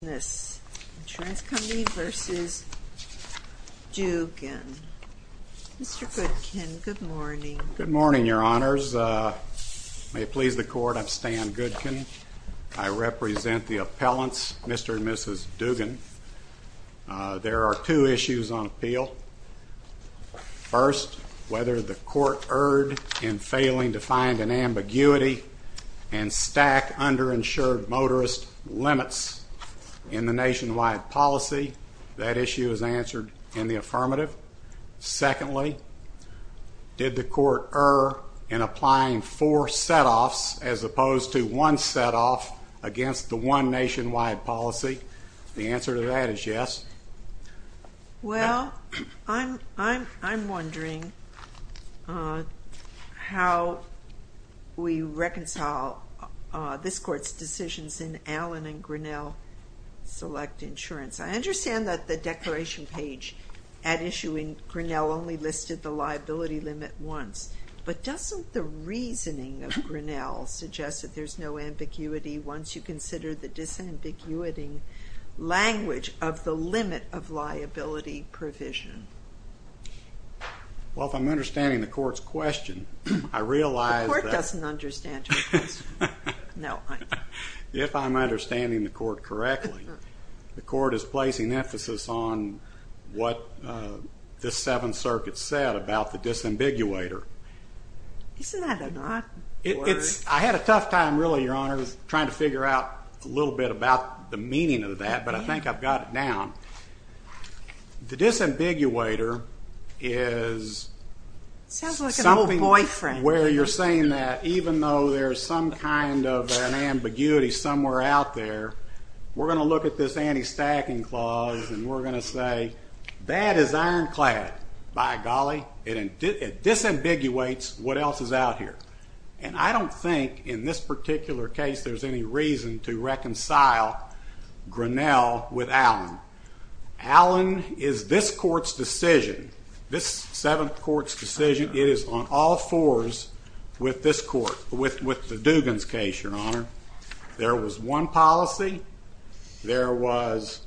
Dugan. Mr. Goodkin, good morning. Good morning, Your Honors. May it please the Court, I'm Stan Goodkin. I represent the appellants, Mr. and Mrs. Dugan. There are two issues on appeal. First, whether the court erred in failing to find an nationwide policy. That issue is answered in the affirmative. Secondly, did the court err in applying four set-offs as opposed to one set-off against the one nationwide policy? The answer to that is yes. Well, I'm wondering how we select insurance. I understand that the declaration page at issue in Grinnell only listed the liability limit once, but doesn't the reasoning of Grinnell suggest that there's no ambiguity once you consider the disambiguity language of the limit of liability provision? Well, if I'm understanding the court's question, I realize that... The court doesn't understand your question. No. If I'm understanding the court correctly, the court is placing emphasis on what this Seventh Circuit said about the disambiguator. Isn't that a odd word? I had a tough time really, Your Honors, trying to figure out a little bit about the meaning of that, but I think I've got it down. The meaning where you're saying that even though there's some kind of an ambiguity somewhere out there, we're going to look at this anti-stacking clause and we're going to say, that is ironclad. By golly, it disambiguates what else is out here. And I don't think in this particular case there's any reason to reconcile Grinnell with Allen. Allen is this court's decision, this Seventh Circuit's decision, all fours with this court, with the Dugan's case, Your Honor. There was one policy, there was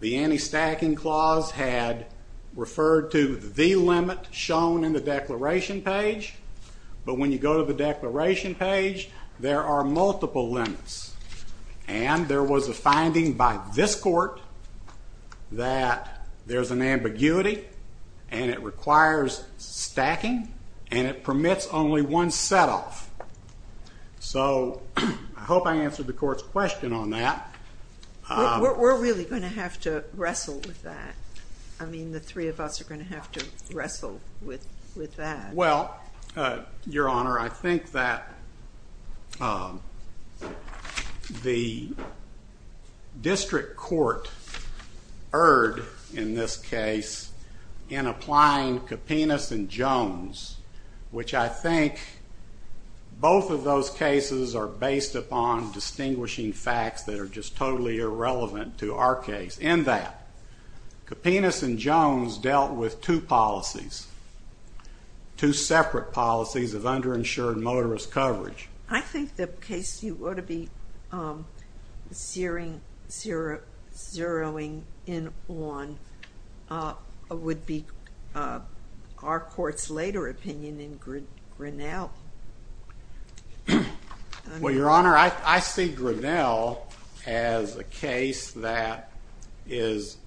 the anti-stacking clause had referred to the limit shown in the declaration page, but when you go to the declaration page, there are multiple limits. And there was a finding by this court that there's an ambiguity and it requires stacking and it permits only one set off. So I hope I answered the court's question on that. We're really going to have to wrestle with that. I mean, the three of us are going to have to wrestle with that. Well, Your Honor, I think that the which I think both of those cases are based upon distinguishing facts that are just totally irrelevant to our case. In that, Kapinas and Jones dealt with two policies, two separate policies of underinsured motorist coverage. I think the case you ought to be zeroing in on would be our court's later opinion in Grinnell. Well, Your Honor, I see Grinnell as a case that is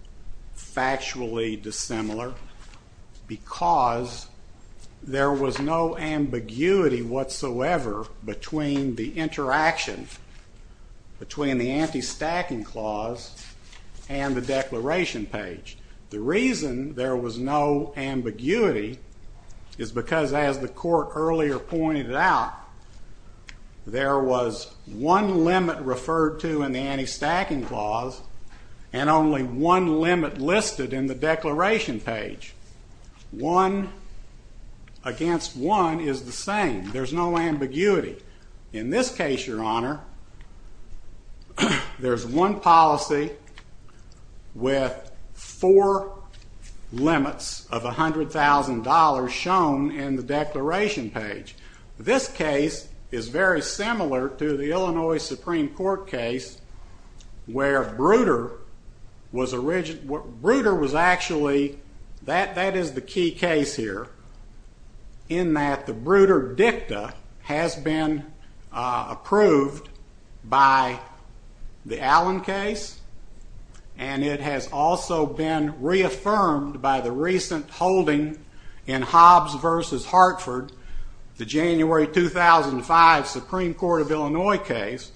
factually dissimilar because there was no ambiguity whatsoever between the interaction between the anti-stacking clause and the declaration page. The reason there was no ambiguity is because, as the court earlier pointed out, there was one limit referred to in the anti-stacking clause and only one limit listed in the declaration page. One against one is the same. There's no limits of $100,000 shown in the declaration page. This case is very similar to the Illinois Supreme Court case where Bruder was actually, that is the key case here, in that the Bruder dicta has been approved by the Allen case and it has also been reaffirmed by the recent holding in Hobbs v. Hartford, the January 2005 Supreme Court of Illinois case,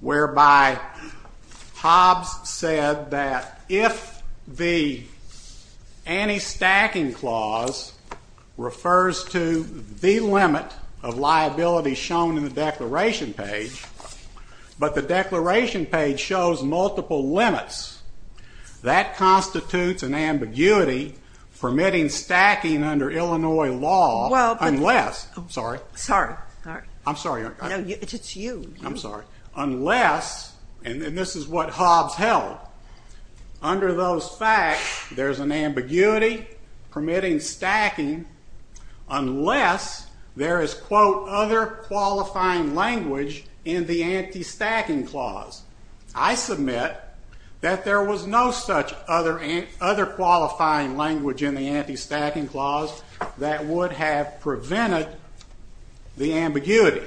whereby Hobbs said that if the anti-stacking clause refers to the limit of liability shown in the declaration page, but the declaration page shows multiple limits, that constitutes an ambiguity permitting stacking under Illinois law unless, sorry, I'm sorry, it's you, I'm sorry, unless, and this is what Hobbs held, under those facts there's an ambiguity permitting stacking unless there is quote, other qualifying language in the anti-stacking clause. I submit that there was no such other qualifying language in the anti-stacking clause that would have prevented the ambiguity.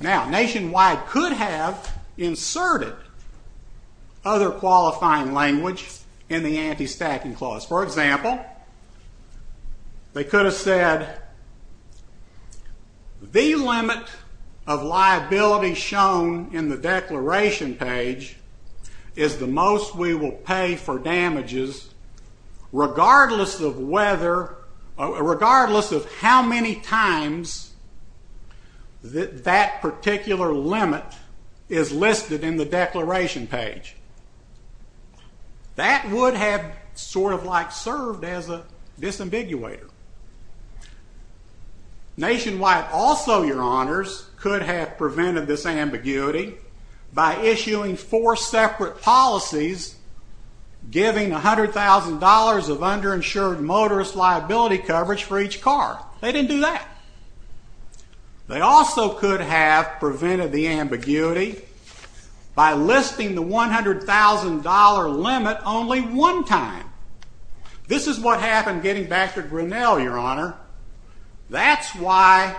Now, Nationwide could have inserted other The limit of liability shown in the declaration page is the most we will pay for damages regardless of whether, regardless of how many times that particular limit is listed in the declaration page. That would have sort of like served as a disambiguator. Nationwide also, your honors, could have prevented this ambiguity by issuing four separate policies giving $100,000 of underinsured motorist liability coverage for each car. They didn't do that. They also could have prevented the ambiguity by listing the $100,000 limit only one time. This is what happened getting back to Grinnell, your honor. That's why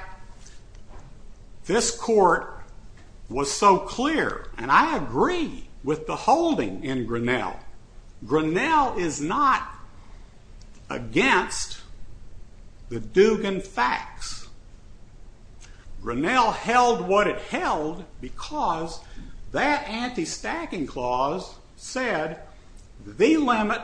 this court was so clear, and I agree with the holding in Grinnell. Grinnell is not against the Dugan facts. Grinnell held what it held because that anti-stacking clause said the limit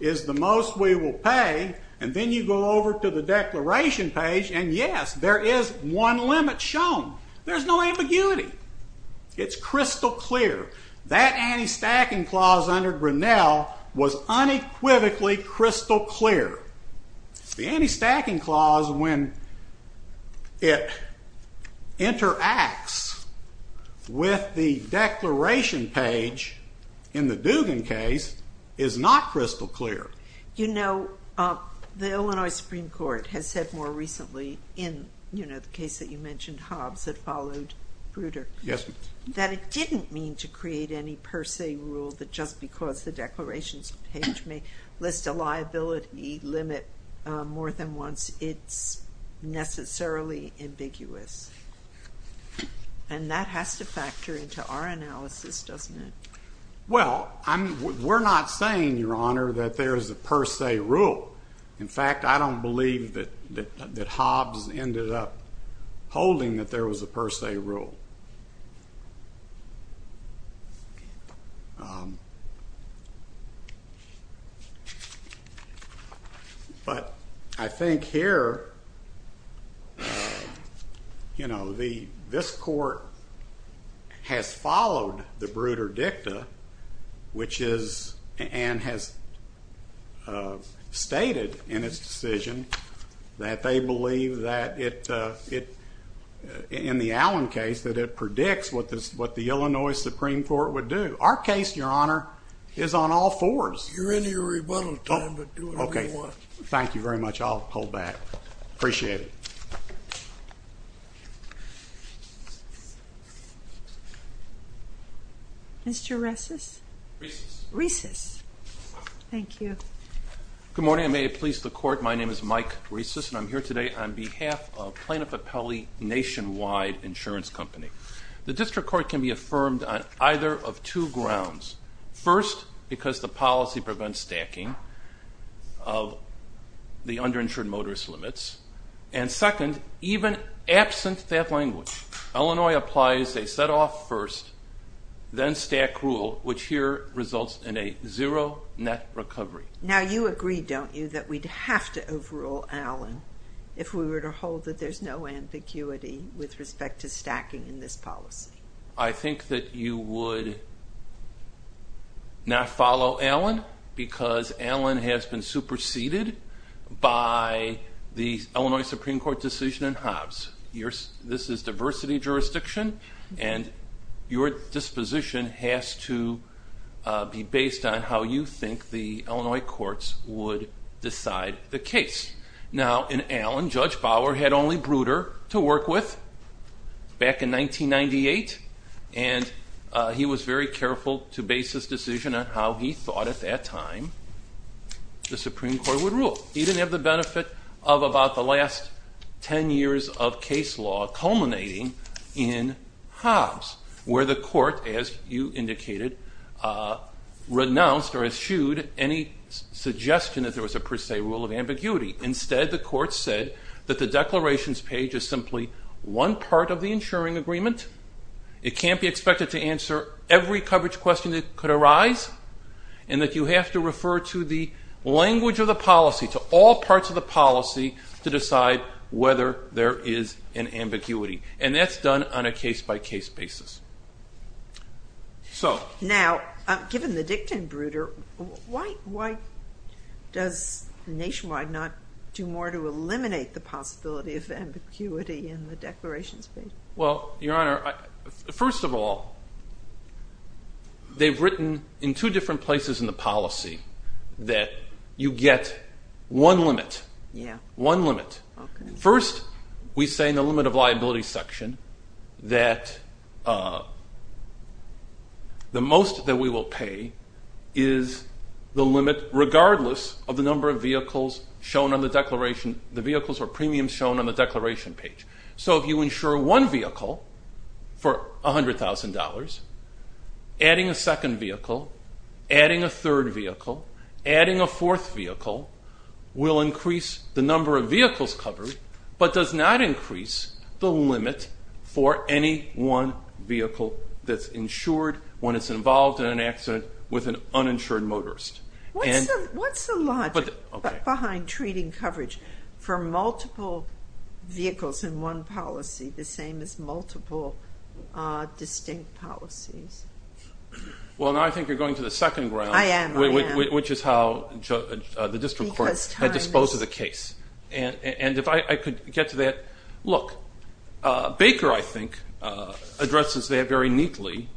is the most we will pay, and then you go over to the declaration page, and yes, there is one limit shown. There's no ambiguity. It's crystal clear. That anti-stacking clause under Grinnell was unequivocally crystal clear. The anti-stacking clause, when it interacts with the declaration page in the Dugan case, is not crystal clear. You know, the Illinois Supreme Court has said more recently in, you know, the case that you mentioned, Hobbs, that followed Bruder, that it didn't mean to create any per se rule that just because the declarations page may list a liability limit more than once, it's necessarily ambiguous, and that has to factor into our analysis, doesn't it? Well, we're not saying, your honor, that there is a per se rule. In fact, I don't believe that Hobbs ended up holding that there was a per se rule. But I think here, you know, this court has followed the Bruder Dicta, which is, and has stated in its decision that they believe that it, in the Allen case, that it predicts what the Illinois Supreme Court would do. Our case, your honor, is on all fours. You're in your rebuttal time, but do whatever you want. Thank you very much. I'll hold back. Appreciate it. Mr. Reces? Reces. Thank you. Good morning. I may have pleased the court. My name is Mike Reces, and I'm here today on behalf of Plano Papelli Nationwide Insurance Company. The district court can be affirmed on either of two grounds. First, because the policy prevents stacking of the underinsured motorist limits, and staff language. Illinois applies a set-off-first-then-stack rule, which here results in a zero net recovery. Now you agree, don't you, that we'd have to overrule Allen if we were to hold that there's no ambiguity with respect to stacking in this policy? I think that you would not follow Allen because Allen has been superseded by the Illinois Supreme Court decision in Hobbs. This is diversity jurisdiction, and your disposition has to be based on how you think the Illinois courts would decide the case. Now in Allen, Judge Bauer had only Bruder to work with back in 1998, and he was very careful to base his decision on the fact that at that time, the Supreme Court would rule. He didn't have the benefit of about the last ten years of case law culminating in Hobbs, where the court, as you indicated, renounced or eschewed any suggestion that there was a per se rule of ambiguity. Instead, the court said that the declarations page is simply one part of the insuring agreement. It can't be expected to answer every coverage question that could arise, and that you have to have a rule of ambiguity. You have to refer to the language of the policy, to all parts of the policy, to decide whether there is an ambiguity, and that's done on a case-by-case basis. Now, given the dictum of Bruder, why does Nationwide not do more to eliminate the possibility of ambiguity in the declarations page? Well, Your Honor, first of all, they've written in two different places in the policy that you get one limit. First, we say in the limit of liability section that the most that we will pay is the limit regardless of the number of vehicles shown on the declaration, the vehicles or premiums shown on the declaration page. So, if you insure one vehicle for $100,000, adding a second vehicle, adding a third vehicle, adding a fourth vehicle will increase the number of vehicles covered, but does not increase the limit for any one vehicle that's insured when it's involved in an accident with an uninsured motorist. What's the logic behind treating coverage for multiple vehicles in one policy the same as multiple distinct policies? Well, now I think you're going to the second ground, which is how the district court had disposed of the case. And if I could get to that, look, Baker, I think, addresses that very neatly,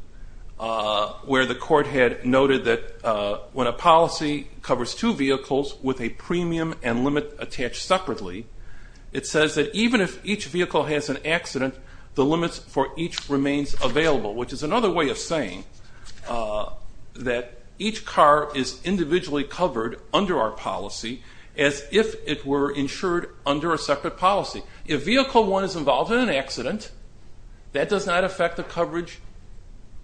where the court had noted that when a policy covers two vehicles with a premium and limit attached separately, it says that even if each vehicle has an accident, the limits for each remains available, which is another way of saying that each car is individually covered under our policy as if it were insured under a separate policy. If vehicle one is involved in an accident, that does not affect the coverage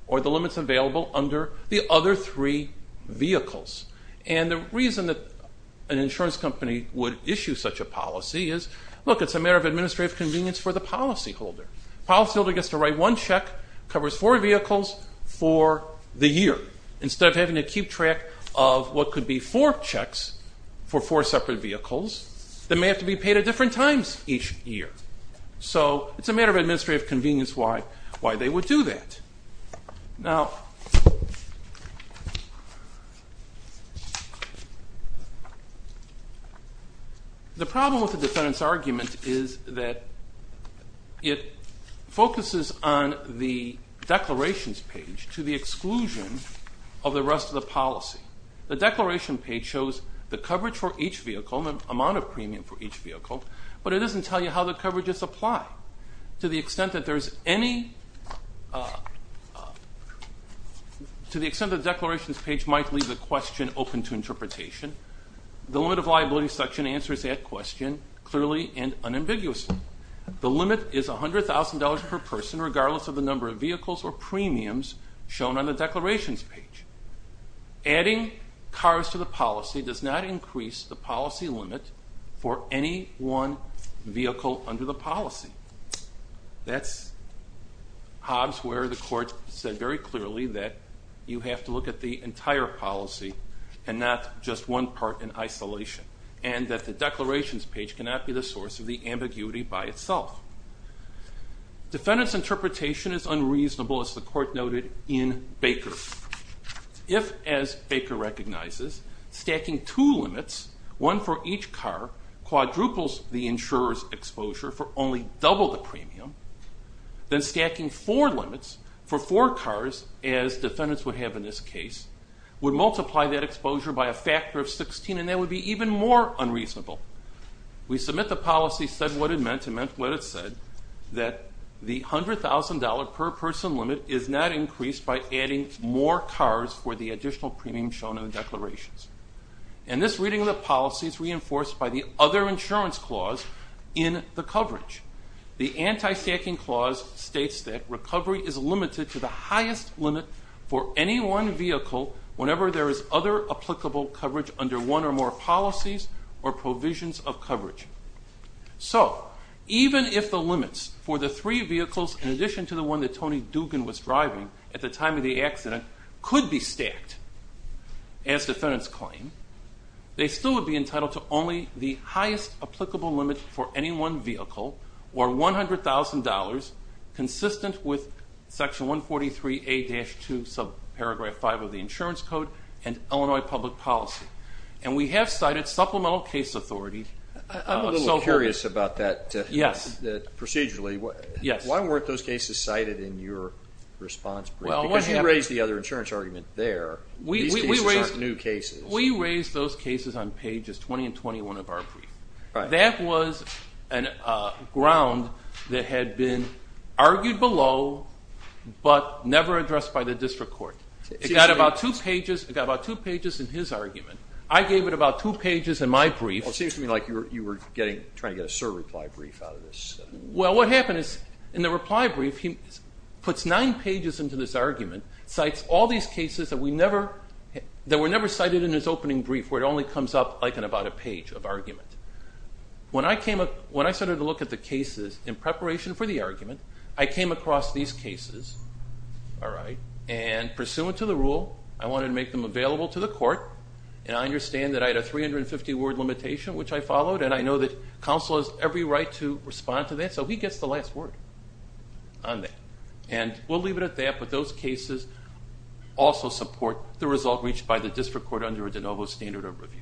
or the limits available under the other three vehicles. And the reason that an insurance company would issue such a policy is, look, it's a matter of administrative convenience for the policyholder. The policyholder gets to write one check, covers four vehicles for the year, instead of having to keep track of what could be four checks for four separate vehicles that may have to be paid at different times each year. So it's a matter of administrative convenience why they would do that. Now, the problem with the defendant's argument is that it focuses on the declarations page to the exclusion of the rest of the policy. The declaration page shows the coverage for each vehicle, the amount of premium for each vehicle, but it doesn't tell you how the coverages apply. To the extent that the declarations page might leave the question open to interpretation, the limit of liability section answers that question clearly and unambiguously. The limit is $100,000 per person, regardless of the number of vehicles or premiums shown on the declarations page. Adding cars to the policy does not increase the policy limit for any one vehicle under the policy. That's Hobbs where the court said very clearly that you have to look at the entire policy and not just one part in isolation, and that the declarations page cannot be the source of the ambiguity by itself. Defendant's interpretation is unreasonable, as the court noted in Baker. If, as Baker recognizes, stacking two limits, one for each car, quadruples the insurer's exposure for only double the premium, then stacking four limits for four cars, as defendants would have in this case, would multiply that exposure by a factor of 16 and that would be even more unreasonable. We submit the policy said what it meant, and meant what it said, that the $100,000 per person limit is not increased by adding more cars for the additional premium shown in the declarations. And this reading of the policy is reinforced by the other insurance clause in the coverage. The anti-stacking clause states that recovery is limited to the highest limit for any one vehicle whenever there is other applicable coverage under one or more policies or provisions of coverage. So, even if the limits for the three vehicles in addition to the one that Tony Dugan was driving at the time of the accident could be stacked, as defendants claim, they still would be entitled to only the highest applicable limit for any one vehicle or $100,000 consistent with section 143A-2 subparagraph 5 of the insurance code and Illinois public policy. And we have cited supplemental case authority. I'm a little curious about that. Yes. Procedurally. Yes. Why weren't those cases cited in your response brief? Because you raised the other insurance argument there. These cases aren't new cases. We raised those cases on pages 20 and 21 of our brief. That was a ground that had been argued below but never addressed by the district court. It got about two pages in his argument. I gave it about two pages in my brief. It seems to me like you were trying to get a surreply brief out of this. Well, what happened is in the reply brief, he puts nine pages into this argument, cites all these cases that were never cited in his opening brief where it only comes up like in about a page of argument. When I started to look at the cases in preparation for the argument, I came across these cases, all right, and pursuant to the rule, I wanted to make them available to the court. And I understand that I had a 350-word limitation, which I followed, and I know that counsel has every right to respond to that, so he gets the last word on that. And we'll leave it at that, but those cases also support the result reached by the district court under a de novo standard of review.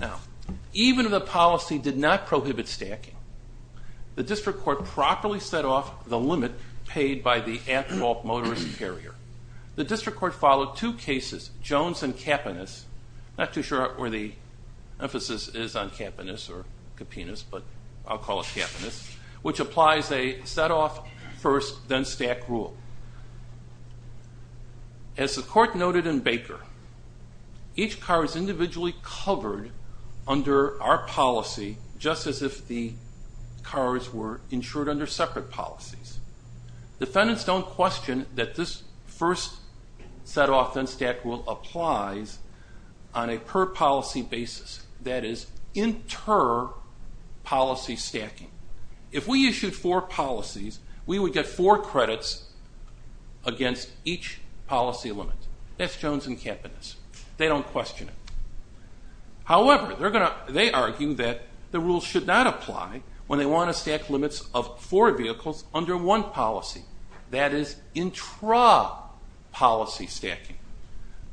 Now, even if the policy did not prohibit stacking, the district court properly set off the limit paid by the at-fault motorist carrier. The district court followed two cases, Jones and Kapanis, not too sure where the emphasis is on Kapanis or Kapinas, but I'll call it Kapanis, which applies a set-off-first-then-stack rule. As the court noted in Baker, each car is individually covered under our policy, just as if the cars were insured under separate policies. Defendants don't question that this first set-off-then-stack rule applies on a per-policy basis, that is inter-policy stacking. If we issued four policies, we would get four credits against each policy limit. That's Jones and Kapanis. They don't question it. However, they argue that the rule should not apply when they want to stack limits of four vehicles under one policy, that is intra-policy stacking.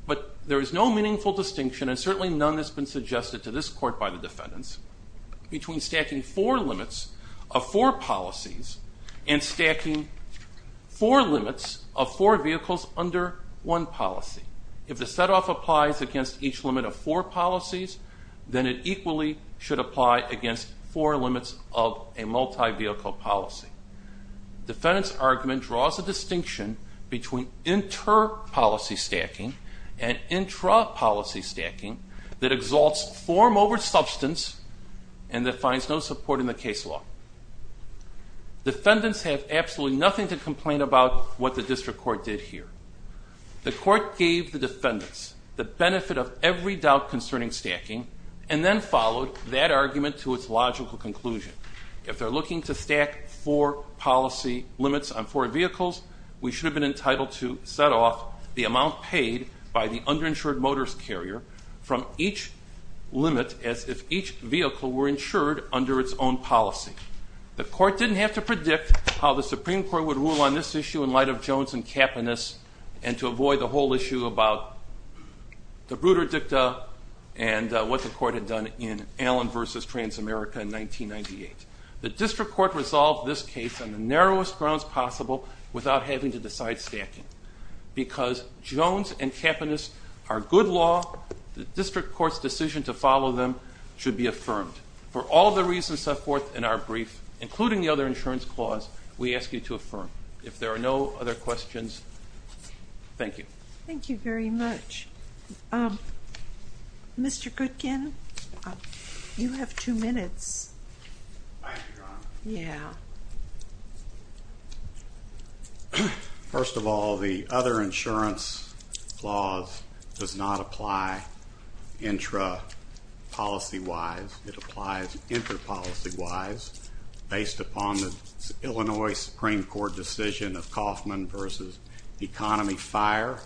But there is no meaningful distinction, and certainly none that's been suggested to this court by the defendants, between stacking four limits of four policies and stacking four limits of four vehicles under one policy. If the set-off applies against each limit of four policies, then it equally should apply against four limits of a multi-vehicle policy. The defendants' argument draws a distinction between inter-policy stacking and intra-policy stacking that exalts form over substance and that finds no support in the case law. Defendants have absolutely nothing to complain about what the district court did here. The court gave the defendants the benefit of every doubt concerning stacking and then followed that argument to its logical conclusion. If they're looking to stack four policy limits on four vehicles, we should have been entitled to set off the amount paid by the under-insured motorist carrier from each limit as if each vehicle were insured under its own policy. The court didn't have to predict how the Supreme Court would rule on this issue in light of Jones and Kapanis and to avoid the whole issue about the Bruder Dicta and what the court had done in Allen v. Transamerica in 1998. The district court resolved this case on the narrowest grounds possible without having to decide stacking. Because Jones and Kapanis are good law, the district court's decision to follow them should be affirmed. For all the reasons set forth in our brief, including the other insurance clause, we ask you to affirm. If there are no other questions, thank you. Thank you very much. Mr. Goodkin, you have two minutes. Thank you, Your Honor. Yeah. First of all, the other insurance clause does not apply intra-policy-wise. It applies intra-policy-wise based upon the Illinois Supreme Court decision of Kauffman v. Economy Fire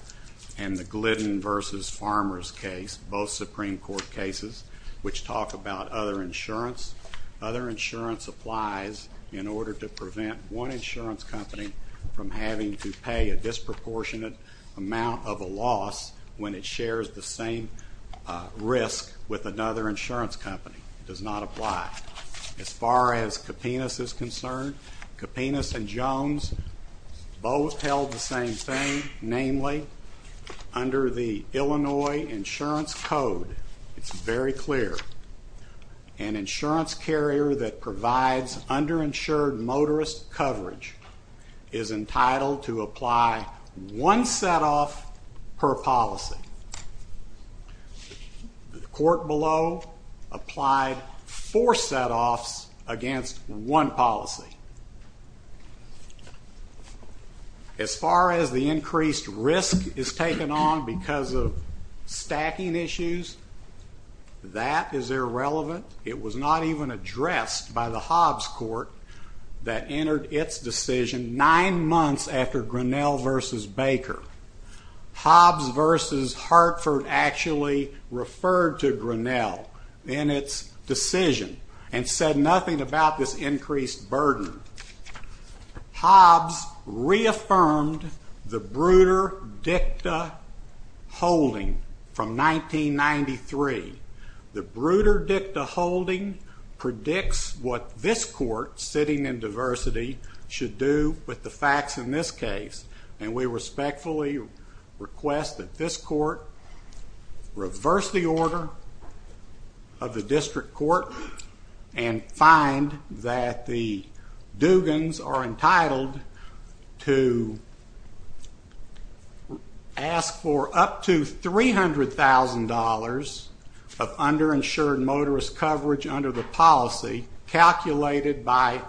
and the Glidden v. Farmers case, both Supreme Court cases, which talk about other insurance. Other insurance applies in order to prevent one insurance company from having to pay a disproportionate amount of a loss when it shares the same risk with another insurance company. It does not apply. As far as Kapanis is concerned, Kapanis and Jones both held the same thing. Namely, under the Illinois Insurance Code, it's very clear. An insurance carrier that provides underinsured motorist coverage is entitled to apply one set-off per policy. The court below applied four set-offs against one policy. As far as the increased risk is taken on because of stacking issues, that is irrelevant. It was not even addressed by the Hobbs court that entered its decision nine months after Grinnell v. Baker. Hobbs v. Hartford actually referred to Grinnell in its decision and said nothing about this increased burden. Hobbs reaffirmed the Bruder Dicta holding from 1993. The Bruder Dicta holding predicts what this court, sitting in diversity, should do with the facts in this case. And we respectfully request that this court reverse the order of the district court and find that the Dugans are entitled to ask for up to $300,000 of underinsured motorist coverage under the policy calculated by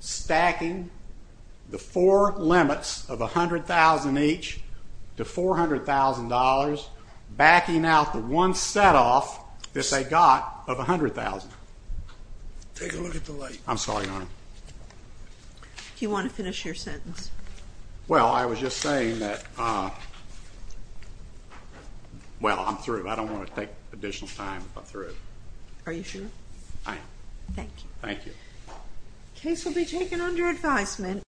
stacking the four limits of $100,000 each to $400,000, backing out the one set-off that they got of $100,000. Take a look at the light. I'm sorry, Your Honor. Do you want to finish your sentence? Well, I was just saying that, well, I'm through. I don't want to take additional time if I'm through. Are you sure? I am. Thank you. Thank you. The case will be taken under advisement.